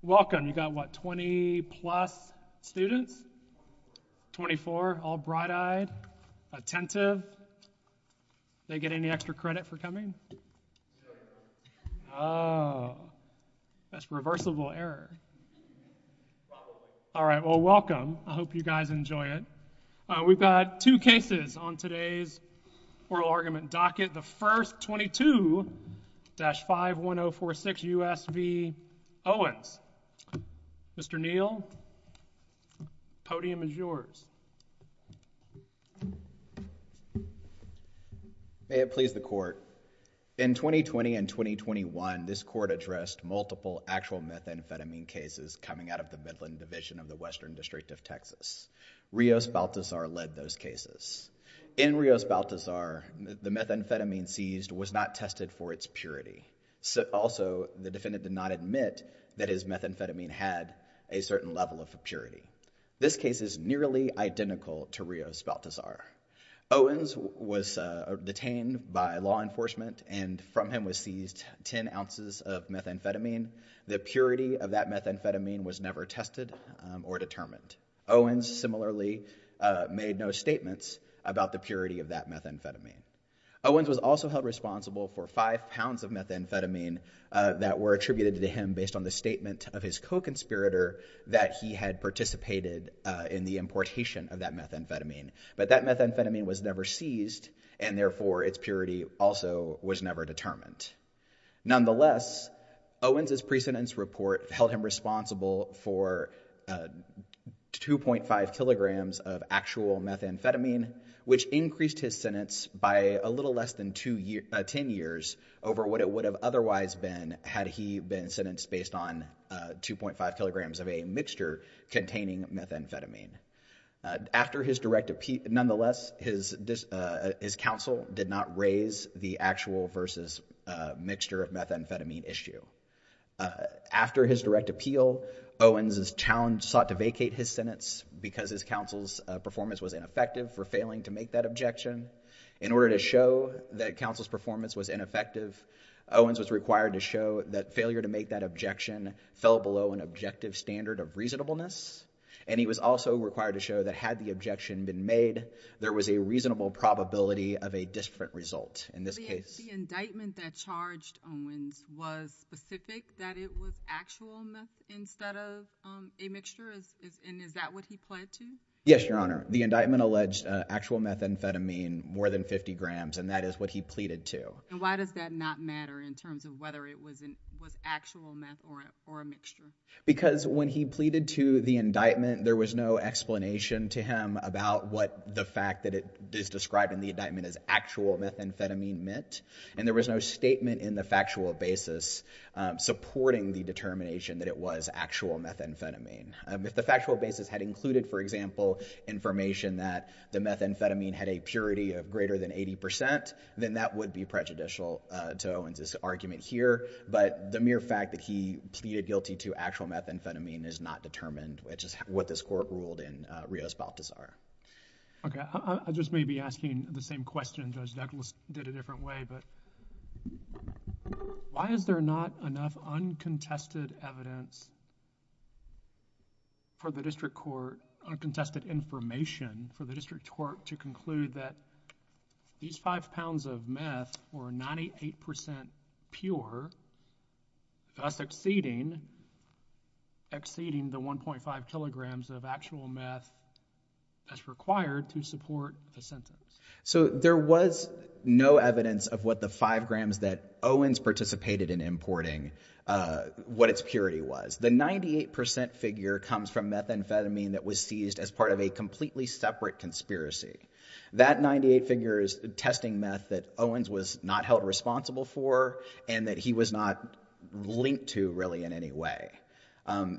welcome you got what 20 plus students 24 all bright-eyed attentive they get any extra credit for coming that's reversible error all right well welcome I hope you guys enjoy it we've got two cases on today's oral argument docket the first 22-5 1046 US v Owens mr. Neal podium is yours may it please the court in 2020 and 2021 this court addressed multiple actual methamphetamine cases coming out of the Midland Division of the Western District of Texas Rios Balthazar led those cases in Rios Balthazar the methamphetamine seized was not tested for its purity so also the defendant did not admit that his methamphetamine had a certain level of purity this case is nearly identical to Rios Balthazar Owens was detained by law enforcement and from him was seized 10 ounces of methamphetamine the purity of that methamphetamine was never tested or determined Owens similarly made no statements about the purity of that methamphetamine Owens was also held responsible for five pounds of methamphetamine that were attributed to him based on the statement of his co-conspirator that he had participated in the importation of that methamphetamine but that methamphetamine was never seized and therefore its purity also was never determined nonetheless Owens's precedence report held him responsible for 2.5 kilograms of actual methamphetamine which increased his sentence by a little less than two years ten years over what it would have otherwise been had he been sentenced based on 2.5 kilograms of a mixture containing methamphetamine after his direct appeal nonetheless his counsel did not raise the actual versus mixture of methamphetamine issue after his direct appeal Owens's challenge sought to vacate his sentence because his counsel's performance was ineffective for failing to make that objection in order to show that counsel's performance was ineffective Owens was required to show that failure to make that objection fell below an objective standard of reasonableness and he was also required to show that had the objection been made there was a reasonable probability of a different result in this case the indictment that charged Owens was specific that it was actual meth instead of a mixture and is that what he pled to yes your honor the indictment alleged actual methamphetamine more than 50 grams and that is what he pleaded to and why does that not matter in terms of whether it wasn't was actual meth or a mixture because when he pleaded to the indictment there was no explanation to him about what the fact that it is described in the indictment as actual methamphetamine meant and there was no statement in the factual basis supporting the determination that it was actual methamphetamine if the factual basis had included for example information that the methamphetamine had a purity of greater than 80 percent then that would be prejudicial to Owens's argument here but the mere fact that he pleaded guilty to actual methamphetamine is not determined which what this court ruled in Rios-Baltazar. Okay I just may be asking the same question Judge Douglas did a different way but why is there not enough uncontested evidence for the district court uncontested information for the district court to conclude that these five pounds of meth were 98% pure thus exceeding the 1.5 kilograms of actual meth that's required to support the sentence? So there was no evidence of what the five grams that Owens participated in importing what its purity was the 98% figure comes from methamphetamine that was seized as part of a completely separate conspiracy that 98 figure is testing meth that Owens was not held responsible for and that he was not linked to really in any way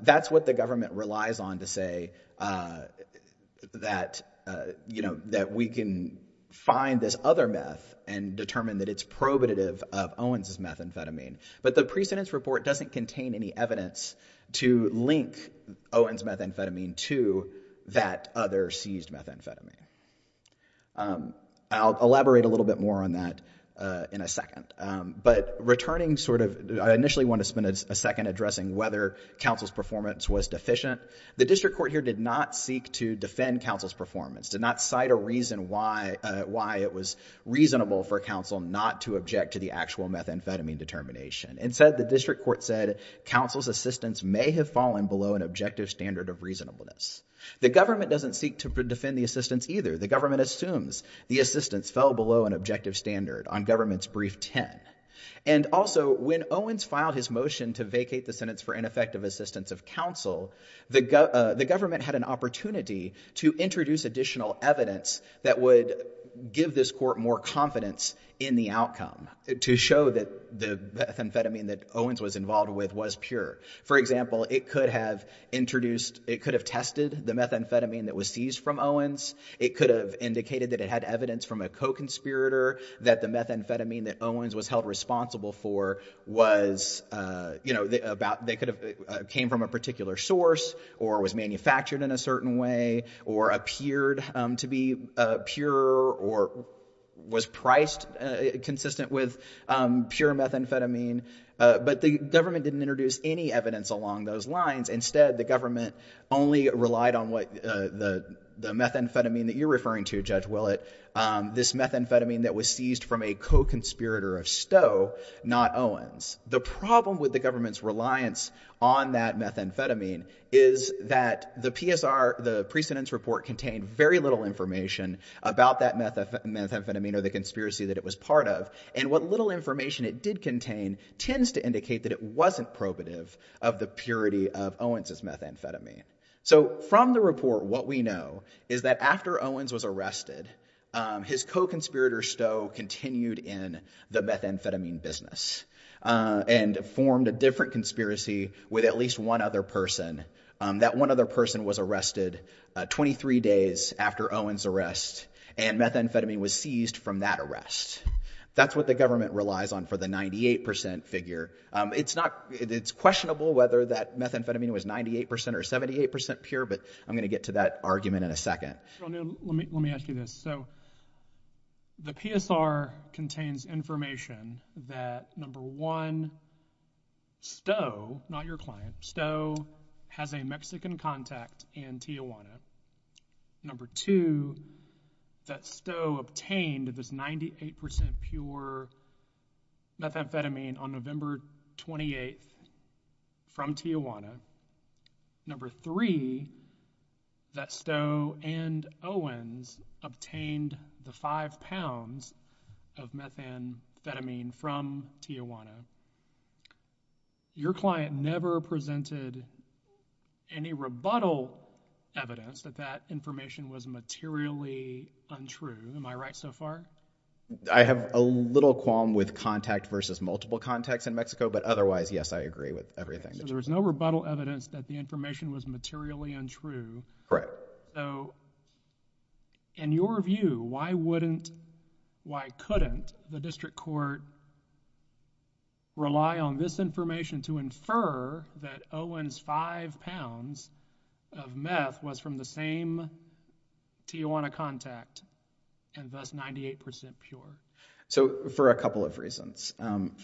that's what the government relies on to say that you know that we can find this other meth and determine that it's probative of Owens's methamphetamine but the precedence report doesn't contain any evidence to link Owens methamphetamine to that other seized methamphetamine. I'll elaborate a little bit more on that in a second but returning sort of initially want to spend a second addressing whether counsel's performance was deficient the district court here did not seek to defend counsel's performance did not cite a reason why it was reasonable for counsel not to object to the actual methamphetamine determination instead the district court said counsel's assistance may have fallen below an objective standard of reasonableness the government doesn't seek to defend the assistance either the government assumes the assistance fell below an objective standard on government's brief 10 and also when Owens filed his motion to vacate the sentence for ineffective assistance of counsel the government had an opportunity to introduce additional evidence that would give this court more confidence in the outcome to show that the methamphetamine that Owens was involved with was pure for example it could have introduced it could have tested the methamphetamine that was seized from Owens it could have had evidence from a co-conspirator that the methamphetamine that Owens was held responsible for was you know about they could have came from a particular source or was manufactured in a certain way or appeared to be pure or was priced consistent with pure methamphetamine but the government didn't introduce any evidence along those lines instead the government only relied on what the the methamphetamine that you're referring to judge Willett this methamphetamine that was seized from a co-conspirator of Stowe not Owens the problem with the government's reliance on that methamphetamine is that the PSR the precedence report contained very little information about that methamphetamine or the conspiracy that it was part of and what little information it did contain tends to indicate that it wasn't probative of the on the report what we know is that after Owens was arrested his co-conspirator Stowe continued in the methamphetamine business and formed a different conspiracy with at least one other person that one other person was arrested 23 days after Owens arrest and methamphetamine was seized from that arrest that's what the government relies on for the 98% figure it's not it's I'm gonna get to that argument in a second so the PSR contains information that number one Stowe not your client Stowe has a Mexican contact in Tijuana number two that Stowe obtained this 98% pure methamphetamine on November 28th from Tijuana number three that Stowe and Owens obtained the five pounds of methamphetamine from Tijuana your client never presented any rebuttal evidence that that information was materially untrue am I right so far I have a little qualm with contact versus multiple contacts in Mexico but otherwise yes I there's no rebuttal evidence that the information was materially untrue right so in your view why wouldn't why couldn't the district court rely on this information to infer that Owens five pounds of meth was from the same Tijuana contact and thus 98% pure so for a couple of reasons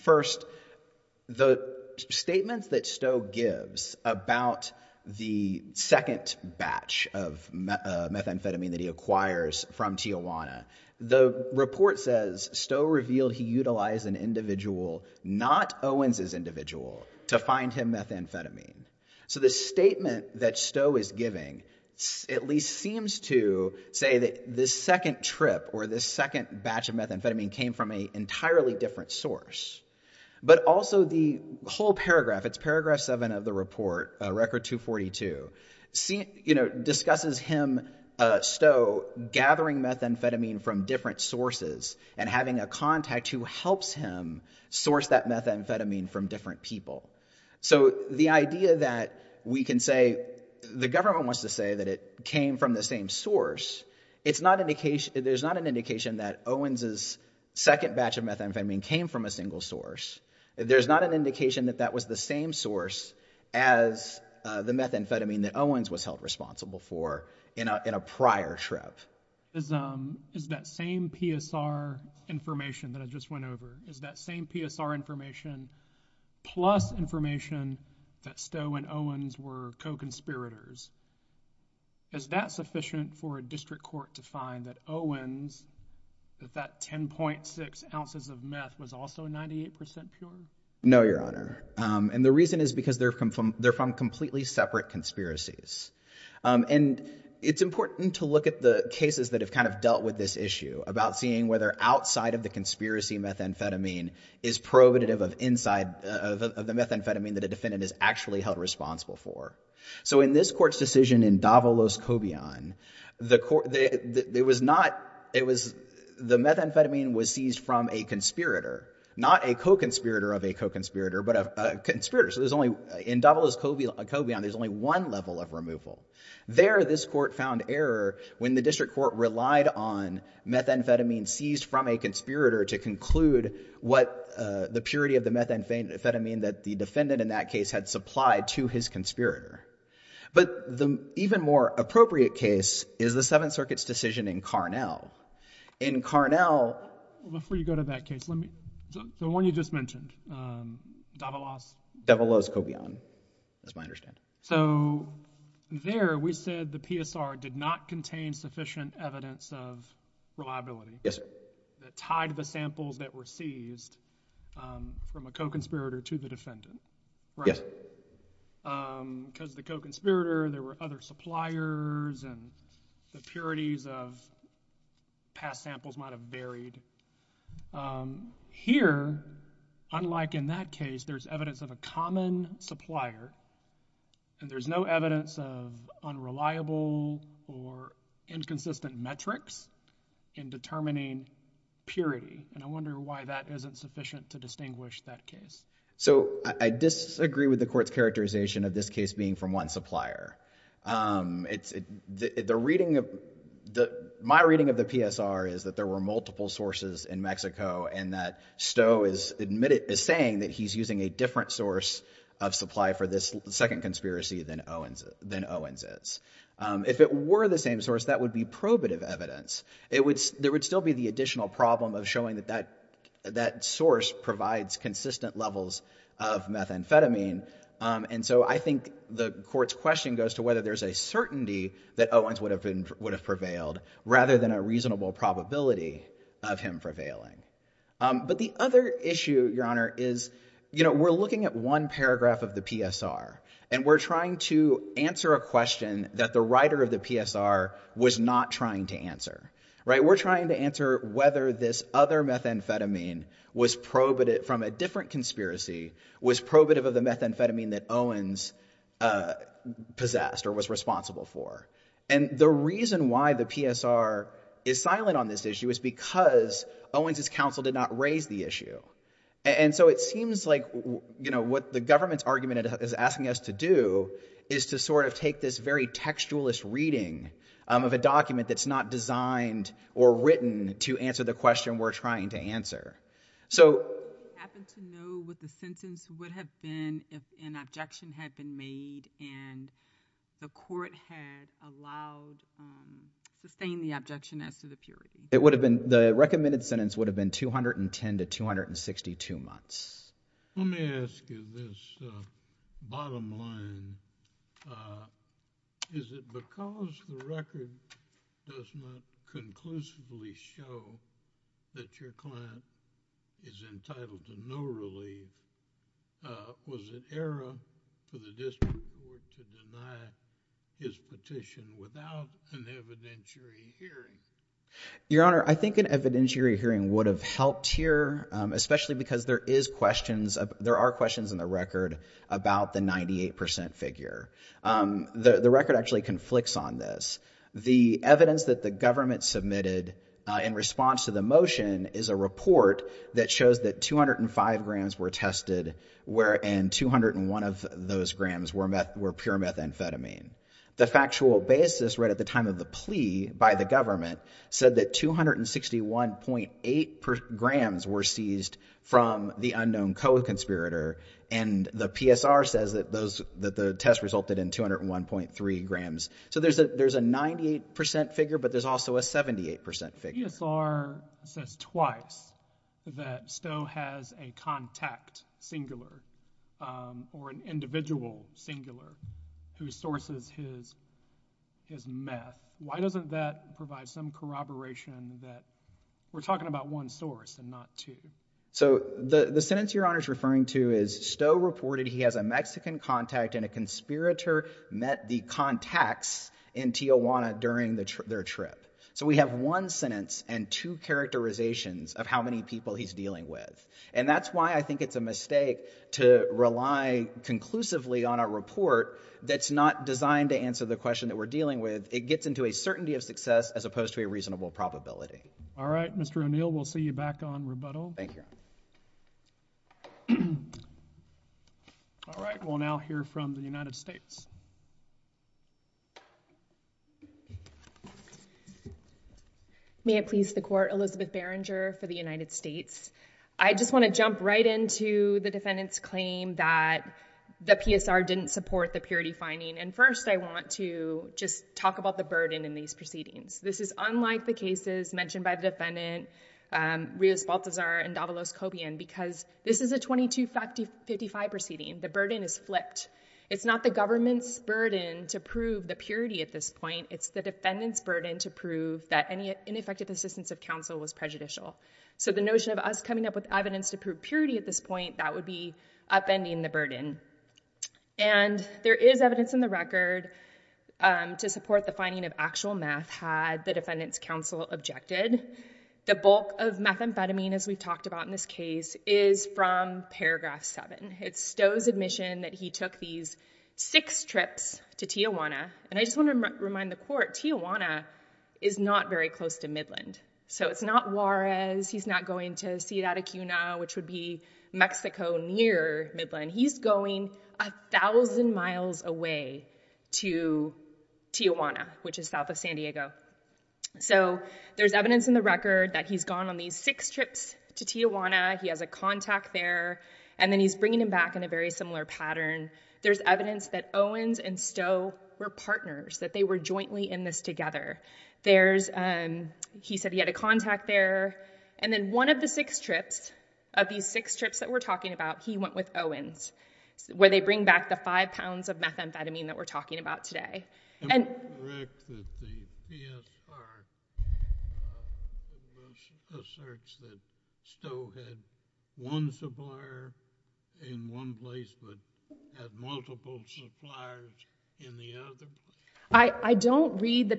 first the statements that Stowe gives about the second batch of methamphetamine that he acquires from Tijuana the report says Stowe revealed he utilized an individual not Owens's individual to find him methamphetamine so the statement that Stowe is giving at least seems to say that this second trip or this second batch of methamphetamine came from a entirely different source but also the whole paragraph it's paragraph 7 of the report record 242 see you know discusses him Stowe gathering methamphetamine from different sources and having a contact who helps him source that methamphetamine from different people so the idea that we can say the government wants to say that it came from the same source it's not indication there's not an indication that Owens's second batch of methamphetamine came from a single source there's not an indication that that was the same source as the methamphetamine that Owens was held responsible for in a prior trip is that same PSR information that I just went over is that same PSR information plus information that Stowe and Owens were co-conspirators is that sufficient for a district court to find that Owens that that 10.6 ounces of meth was also 98% pure no your honor and the reason is because they're from they're from completely separate conspiracies and it's important to look at the cases that have kind of dealt with this issue about seeing whether outside of the conspiracy methamphetamine is probative of inside of the methamphetamine that a defendant is actually held responsible for so in this court's decision in Davalos-Cobion the court there was not it was the methamphetamine was seized from a conspirator not a co-conspirator of a co-conspirator but a conspirator so there's only in Davalos-Cobion there's only one level of removal there this court found error when the district court relied on methamphetamine seized from a conspirator to conclude what the maturity of the methamphetamine that the defendant in that case had supplied to his conspirator but the even more appropriate case is the Seventh Circuit's decision in Carnell in Carnell before you go to that case let me the one you just mentioned Davalos-Cobion that's my understanding so there we said the PSR did not contain sufficient evidence of reliability yes sir that tied the from a co-conspirator to the defendant yes because the co-conspirator there were other suppliers and the purities of past samples might have varied here unlike in that case there's evidence of a common supplier and there's no evidence of unreliable or inconsistent metrics in determining purity and I so I disagree with the court's characterization of this case being from one supplier it's the reading of the my reading of the PSR is that there were multiple sources in Mexico and that Stowe is admitted is saying that he's using a different source of supply for this second conspiracy than Owens than Owens is if it were the same source that would be probative evidence it would there would still be the additional problem of showing that that that source provides consistent levels of methamphetamine and so I think the court's question goes to whether there's a certainty that Owens would have been would have prevailed rather than a reasonable probability of him prevailing but the other issue your honor is you know we're looking at one paragraph of the PSR and we're trying to answer a question that the writer of the PSR was not trying to answer right we're trying to answer whether this other methamphetamine was probative from a different conspiracy was probative of the methamphetamine that Owens possessed or was responsible for and the reason why the PSR is silent on this issue is because Owens's counsel did not raise the issue and so it seems like you know what the government's argument is asking us to do is to sort of take this very textualist reading of a document that's not designed or written to answer the question we're trying to answer so it would have been the recommended sentence would have been 210 to 262 months your honor I think an evidentiary hearing would have helped here especially because there is questions there are questions in the record about the 98% figure the record actually conflicts on this the evidence that the government submitted in response to the motion is a report that shows that 205 grams were tested where and 201 of those grams were met were pure methamphetamine the factual basis right at the time of the plea by the from the unknown co-conspirator and the PSR says that those that the test resulted in 201.3 grams so there's a there's a 98 percent figure but there's also a 78 percent figure are says twice that still has a contact singular or an individual singular who sources his his meth why doesn't that provide some we're talking about one source and not two so the the sentence your honor is referring to is Stowe reported he has a Mexican contact and a conspirator met the contacts in Tijuana during the trip their trip so we have one sentence and two characterizations of how many people he's dealing with and that's why I think it's a mistake to rely conclusively on a report that's not designed to answer the question that we're dealing with it gets into a certainty of success as opposed to a reasonable probability all right mr. O'Neill we'll see you back on rebuttal thank you all right we'll now hear from the United States may it please the court Elizabeth Berenger for the United States I just want to jump right into the defendants claim that the PSR didn't support the purity finding and first I want to just talk about the burden in these proceedings this is unlike the cases mentioned by the defendant Rios Baltazar and Davalos Coppian because this is a 2255 proceeding the burden is flipped it's not the government's burden to prove the purity at this point it's the defendants burden to prove that any ineffective assistance of counsel was prejudicial so the notion of us coming up with evidence to prove purity at this point that would be upending the burden and there is evidence in the record to support the defendants counsel objected the bulk of methamphetamine as we talked about in this case is from paragraph 7 it's Stowe's admission that he took these six trips to Tijuana and I just want to remind the court Tijuana is not very close to Midland so it's not Juarez he's not going to see that Acuna which would be Mexico near Midland he's going a thousand miles away to Tijuana which is south of San Diego so there's evidence in the record that he's gone on these six trips to Tijuana he has a contact there and then he's bringing him back in a very similar pattern there's evidence that Owens and Stowe were partners that they were jointly in this together there's and he said he had a contact there and then one of the six trips of these six trips that we're talking about he went with Owens where they bring back the five pounds of methamphetamine that we're talking about today and I don't read the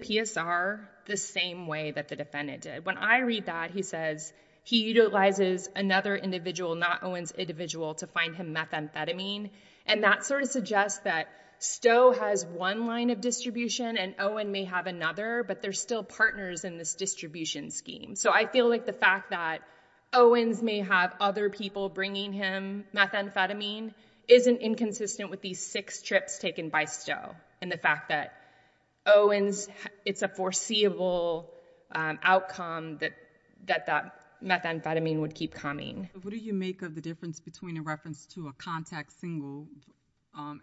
PSR the same way that the defendant did when I read that he says he utilizes another individual not Owens to find him methamphetamine and that sort of suggests that Stowe has one line of distribution and Owen may have another but they're still partners in this distribution scheme so I feel like the fact that Owens may have other people bringing him methamphetamine isn't inconsistent with these six trips taken by Stowe and the fact that Owens it's a foreseeable outcome that that methamphetamine would keep coming what do you make of the difference between a reference to a contact single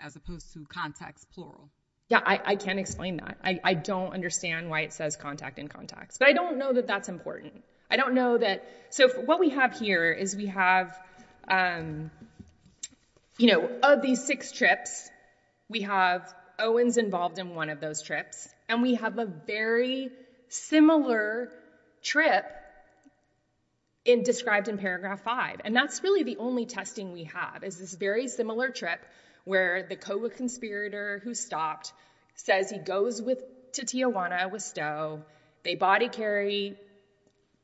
as opposed to contacts plural yeah I can't explain that I don't understand why it says contact and contacts but I don't know that that's important I don't know that so what we have here is we have you know of these six trips we have Owens involved in one of those trips and we have a very similar trip in described in paragraph five and that's really the only testing we have is this very similar trip where the co-conspirator who stopped says he goes with to Tijuana with Stowe they body carry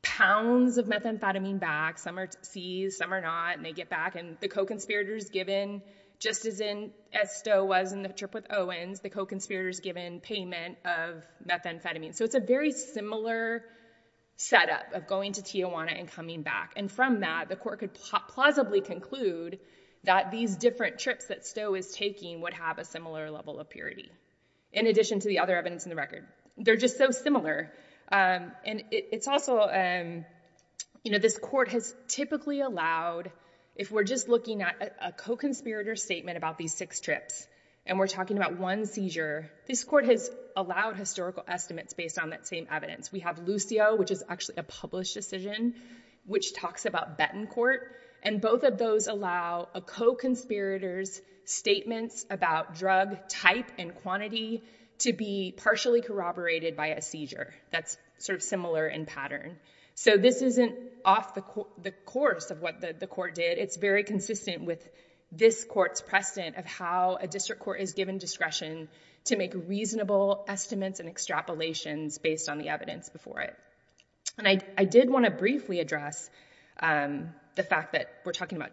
pounds of methamphetamine back summer sees summer not and they get back and the co-conspirators given just as in as Stowe was in the trip with Owens the methamphetamine so it's a very similar setup of going to Tijuana and coming back and from that the court could plausibly conclude that these different trips that Stowe is taking would have a similar level of purity in addition to the other evidence in the record they're just so similar and it's also and you know this court has typically allowed if we're just looking at a co-conspirator statement about these six trips and we're talking about one seizure this court has allowed historical estimates based on that same evidence we have Lucio which is actually a published decision which talks about Bettencourt and both of those allow a co-conspirators statements about drug type and quantity to be partially corroborated by a seizure that's sort of similar in pattern so this isn't off the course of what the court did it's very consistent with this court's precedent of how a district court is given discretion to make reasonable estimates and extrapolations based on the evidence before it and I did want to briefly address the fact that we're talking about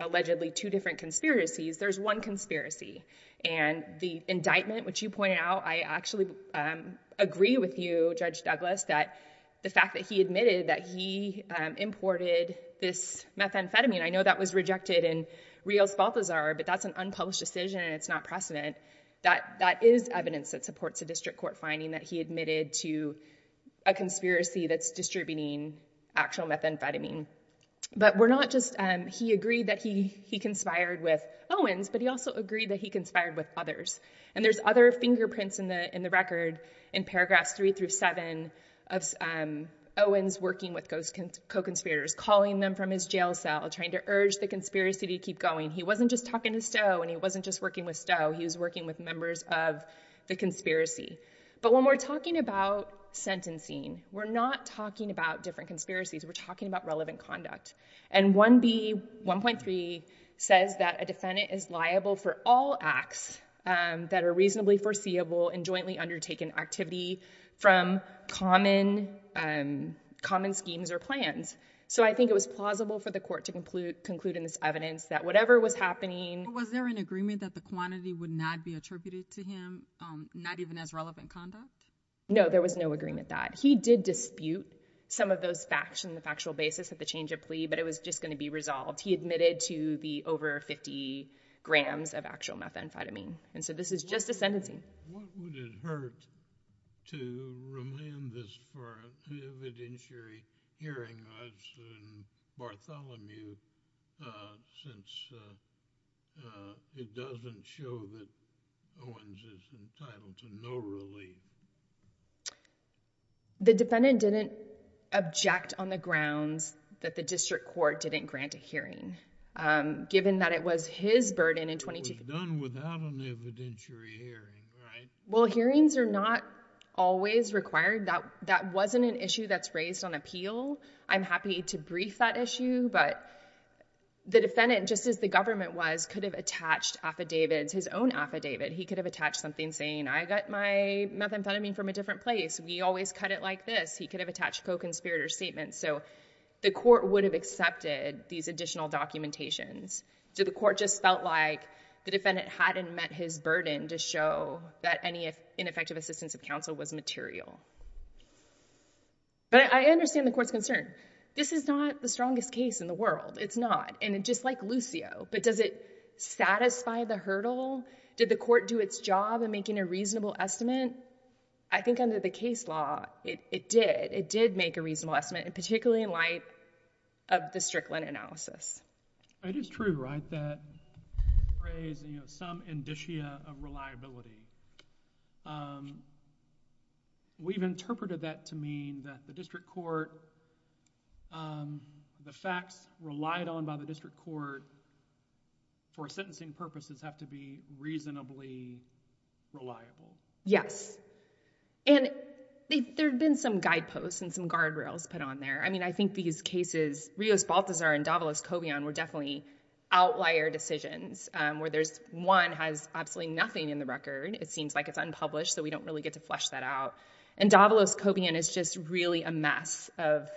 allegedly two different conspiracies there's one conspiracy and the indictment which you pointed out I actually agree with you judge Douglas that the fact that he admitted that he imported this methamphetamine I know that was rejected in real spotless are but that's an unpublished decision and it's not precedent that that is evidence that supports a district court finding that he admitted to a conspiracy that's distributing actual methamphetamine but we're not just and he agreed that he he conspired with Owens but he also agreed that he conspired with others and there's other fingerprints in the in the record in paragraphs three through seven of Owens working with ghost can co-conspirators calling them from his jail cell trying to urge the conspiracy to keep going he wasn't just talking to so and he wasn't just working with Stowe he was working with members of the conspiracy but when we're talking about sentencing we're not talking about different conspiracies we're talking about relevant conduct and 1b 1.3 says that a defendant is liable for all acts that are reasonably foreseeable and jointly undertaken activity from common and common schemes or plans so I think it was plausible for the court to conclude conclude in this evidence that whatever was happening was there an agreement that the quantity would not be attributed to him not even as relevant conduct no there was no agreement that he did dispute some of those facts and the factual basis of the change of plea but it was just going to be resolved he admitted to the over 50 grams of actual methamphetamine and so this is just a sentencing the defendant didn't object on the grounds that the district court didn't grant a hearing given that it was his burden in 22 well hearings are not always required that that wasn't an issue that's raised on appeal I'm happy to brief that issue but the defendant just as the government was could have attached affidavits his own affidavit he could have attached something saying I got my methamphetamine from a different place we always cut it like this he could have attached co-conspirator statements so the court would have accepted these additional documentations to the court just felt like the defendant hadn't met his burden to show that any if ineffective assistance of counsel was material but I understand the court's concern this is not the did it satisfy the hurdle did the court do its job and making a reasonable estimate I think under the case law it did it did make a reasonable estimate and particularly in light of the Strickland analysis it is true right that some indicia of reliability we've interpreted that to mean that the for sentencing purposes have to be reasonably reliable yes and there have been some guideposts and some guardrails put on there I mean I think these cases Rios Balthazar and Davalos Cobian were definitely outlier decisions where there's one has absolutely nothing in the record it seems like it's unpublished so we don't really get to flesh that out and Davalos Cobian is just really a mess of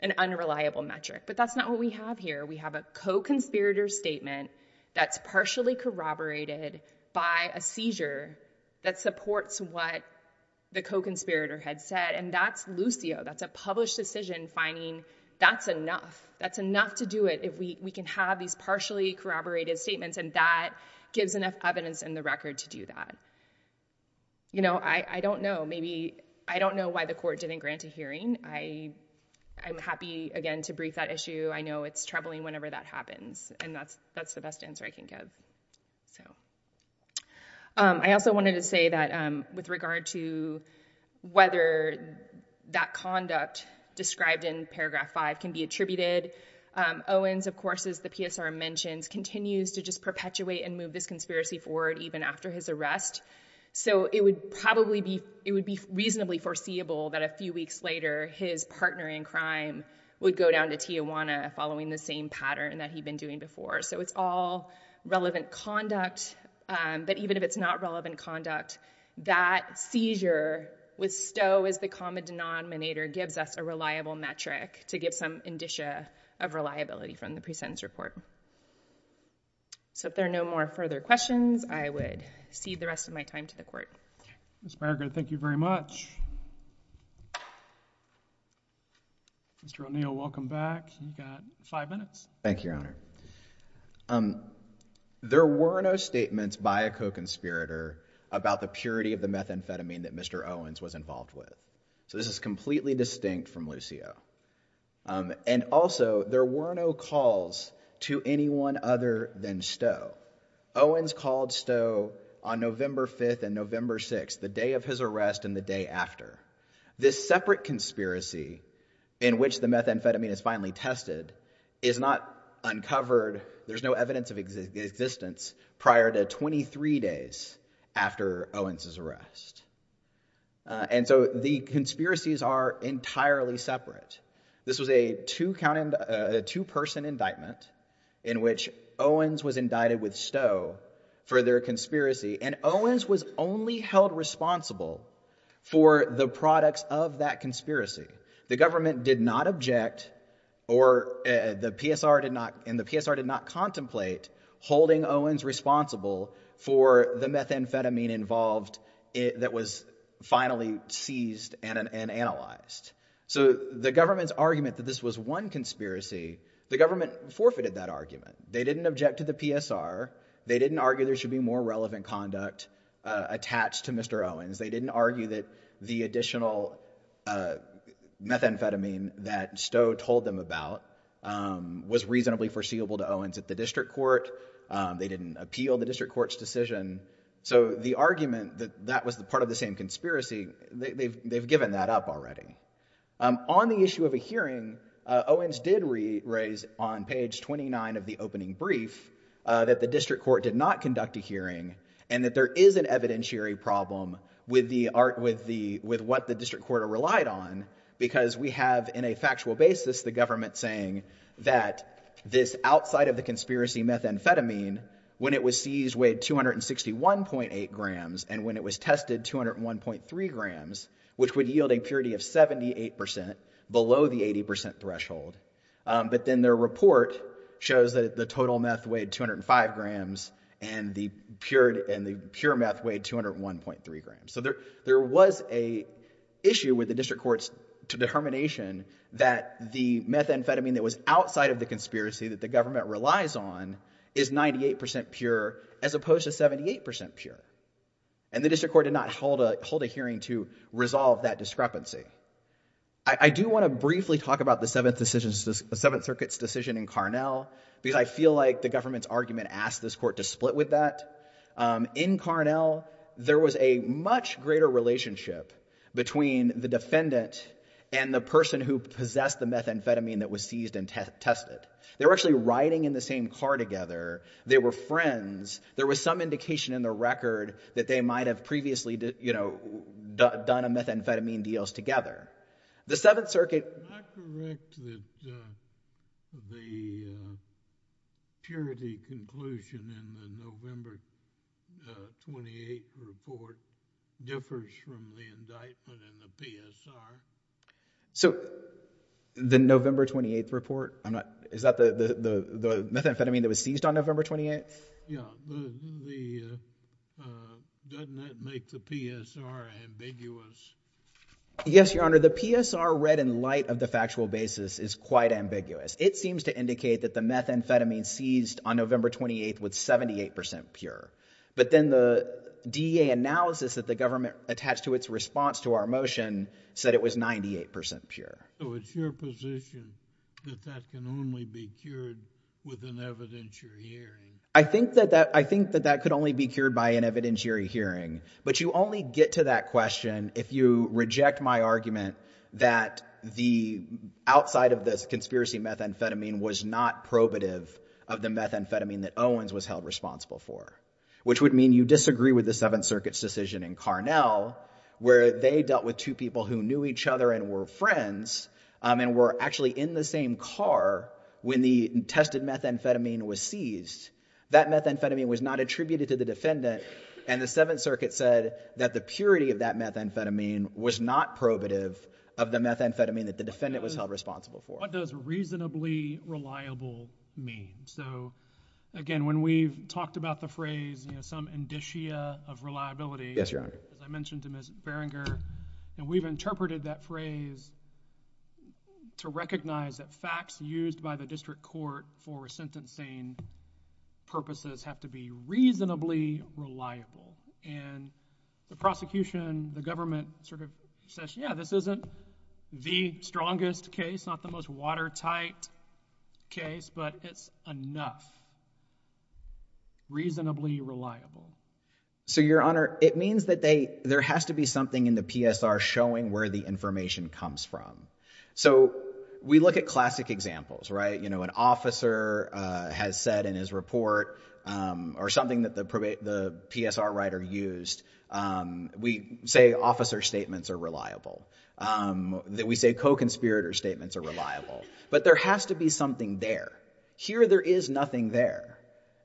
an unreliable metric but that's not what we have here we have a co-conspirator statement that's partially corroborated by a seizure that supports what the co-conspirator had said and that's Lucio that's a published decision finding that's enough that's enough to do it if we we can have these partially corroborated statements and that gives enough evidence in the record to do that you know I I don't know maybe I don't know why the court didn't grant a hearing I I'm happy again to brief that issue I know it's troubling whenever that happens and that's that's the best answer I can give so I also wanted to say that with regard to whether that conduct described in paragraph 5 can be attributed Owens of course is the PSR mentions continues to just perpetuate and move this conspiracy forward even after his arrest so it would probably be it would be reasonably foreseeable that a few weeks later his partner in crime would go down to Tijuana following the same pattern that he'd been doing before so it's all relevant conduct but even if it's not relevant conduct that seizure with Stowe is the common denominator gives us a reliable metric to give some indicia of reliability from the pre-sentence report so if there are no more further questions I would see the rest of my time to the court Miss Berger, thank you very much. Mr. O'Neill, welcome back. You've got five minutes. Thank you, Your Honor. There were no statements by a co-conspirator about the purity of the methamphetamine that Mr. Owens was involved with so this is completely distinct from Lucio and also there were no calls to anyone other than Lucio called Stowe on November 5th and November 6th the day of his arrest and the day after this separate conspiracy in which the methamphetamine is finally tested is not uncovered there's no evidence of existence prior to 23 days after Owens's arrest and so the conspiracies are entirely separate this was a two-person indictment in which Owens was indicted with Stowe for their conspiracy and Owens was only held responsible for the products of that conspiracy the government did not object or the PSR did not and the PSR did not contemplate holding Owens responsible for the methamphetamine involved it that was finally seized and analyzed so the government's argument that this was one conspiracy the government forfeited that argument they didn't argue there should be more relevant conduct attached to Mr. Owens they didn't argue that the additional methamphetamine that Stowe told them about was reasonably foreseeable to Owens at the district court they didn't appeal the district court's decision so the argument that that was the part of the same conspiracy they've given that up already on the issue of a hearing Owens did raise on page 29 of the opening brief that the district court did not conduct a hearing and that there is an evidentiary problem with the art with the with what the district court relied on because we have in a factual basis the government saying that this outside of the conspiracy methamphetamine when it was seized weighed 261.8 grams and when it was tested 201.3 grams which would yield a purity of 78% below the 80% threshold but then their report shows that the total meth weighed 205 grams and the pure and the pure meth weighed 201.3 grams so there there was a issue with the district court's determination that the methamphetamine that was outside of the conspiracy that the government relies on is 98% pure as opposed to 78% pure and the district court did not hold a hold a hearing to resolve that discrepancy. I do want to briefly talk about the Seventh Circuit's decision in Carnell because I feel like the government's argument asked this court to split with that. In Carnell there was a much greater relationship between the defendant and the person who possessed the methamphetamine that was seized and tested. They were actually riding in the same car together, they were friends, there was some indication in the record that they might have previously, you know, done a methamphetamine deals together. The Seventh Circuit... Is it correct that the purity conclusion in the November 28th report differs from the indictment in the PSR? So the November 28th report, I'm not, is that the the methamphetamine that was seized on November 28th? Doesn't that make the PSR ambiguous? Yes, Your Honor, the PSR read in light of the factual basis is quite ambiguous. It seems to indicate that the methamphetamine seized on November 28th was 78% pure, but then the DEA analysis that the government attached to its response to our motion said it was 98% pure. So it's your position that that can only be cured with an evidentiary hearing? I think that that could only be cured by an evidentiary hearing, but you only get to that question if you reject my argument that the outside of this conspiracy methamphetamine was not probative of the methamphetamine that Owens was held responsible for, which would mean you disagree with the Seventh Circuit's decision in Carnell where they dealt with two people who knew each other and were friends and were actually in the same car when the tested methamphetamine was seized. That methamphetamine was not attributed to the defendant and the Seventh Circuit said that the purity of that methamphetamine was not probative of the methamphetamine that the defendant was held responsible for. What does reasonably reliable mean? So again, when we've talked about the phrase, you know, some indicia of reliability, as I mentioned to Ms. Behringer, and we've interpreted that we recognize that facts used by the district court for sentencing purposes have to be reasonably reliable, and the prosecution, the government, sort of says, yeah, this isn't the strongest case, not the most watertight case, but it's enough. Reasonably reliable. So, Your Honor, it means that there has to be something in the PSR showing where the information comes from. So, we look at classic examples, right? You know, an officer has said in his report, or something that the PSR writer used, we say officer statements are reliable, that we say co-conspirator statements are reliable, but there has to be something there. Here, there is nothing there.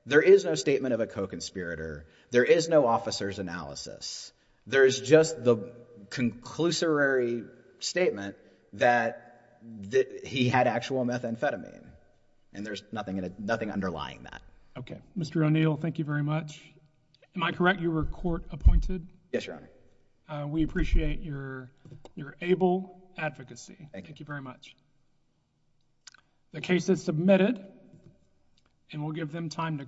There is no statement of a co-conspirator. There is no officer's analysis. There is just the conclusory statement that he had actual methamphetamine, and there's nothing underlying that. Okay. Mr. O'Neill, thank you very much. Am I correct, you were court-appointed? Yes, Your Honor. We appreciate your able advocacy. Thank you very much. The case is submitted, and we'll give them time to...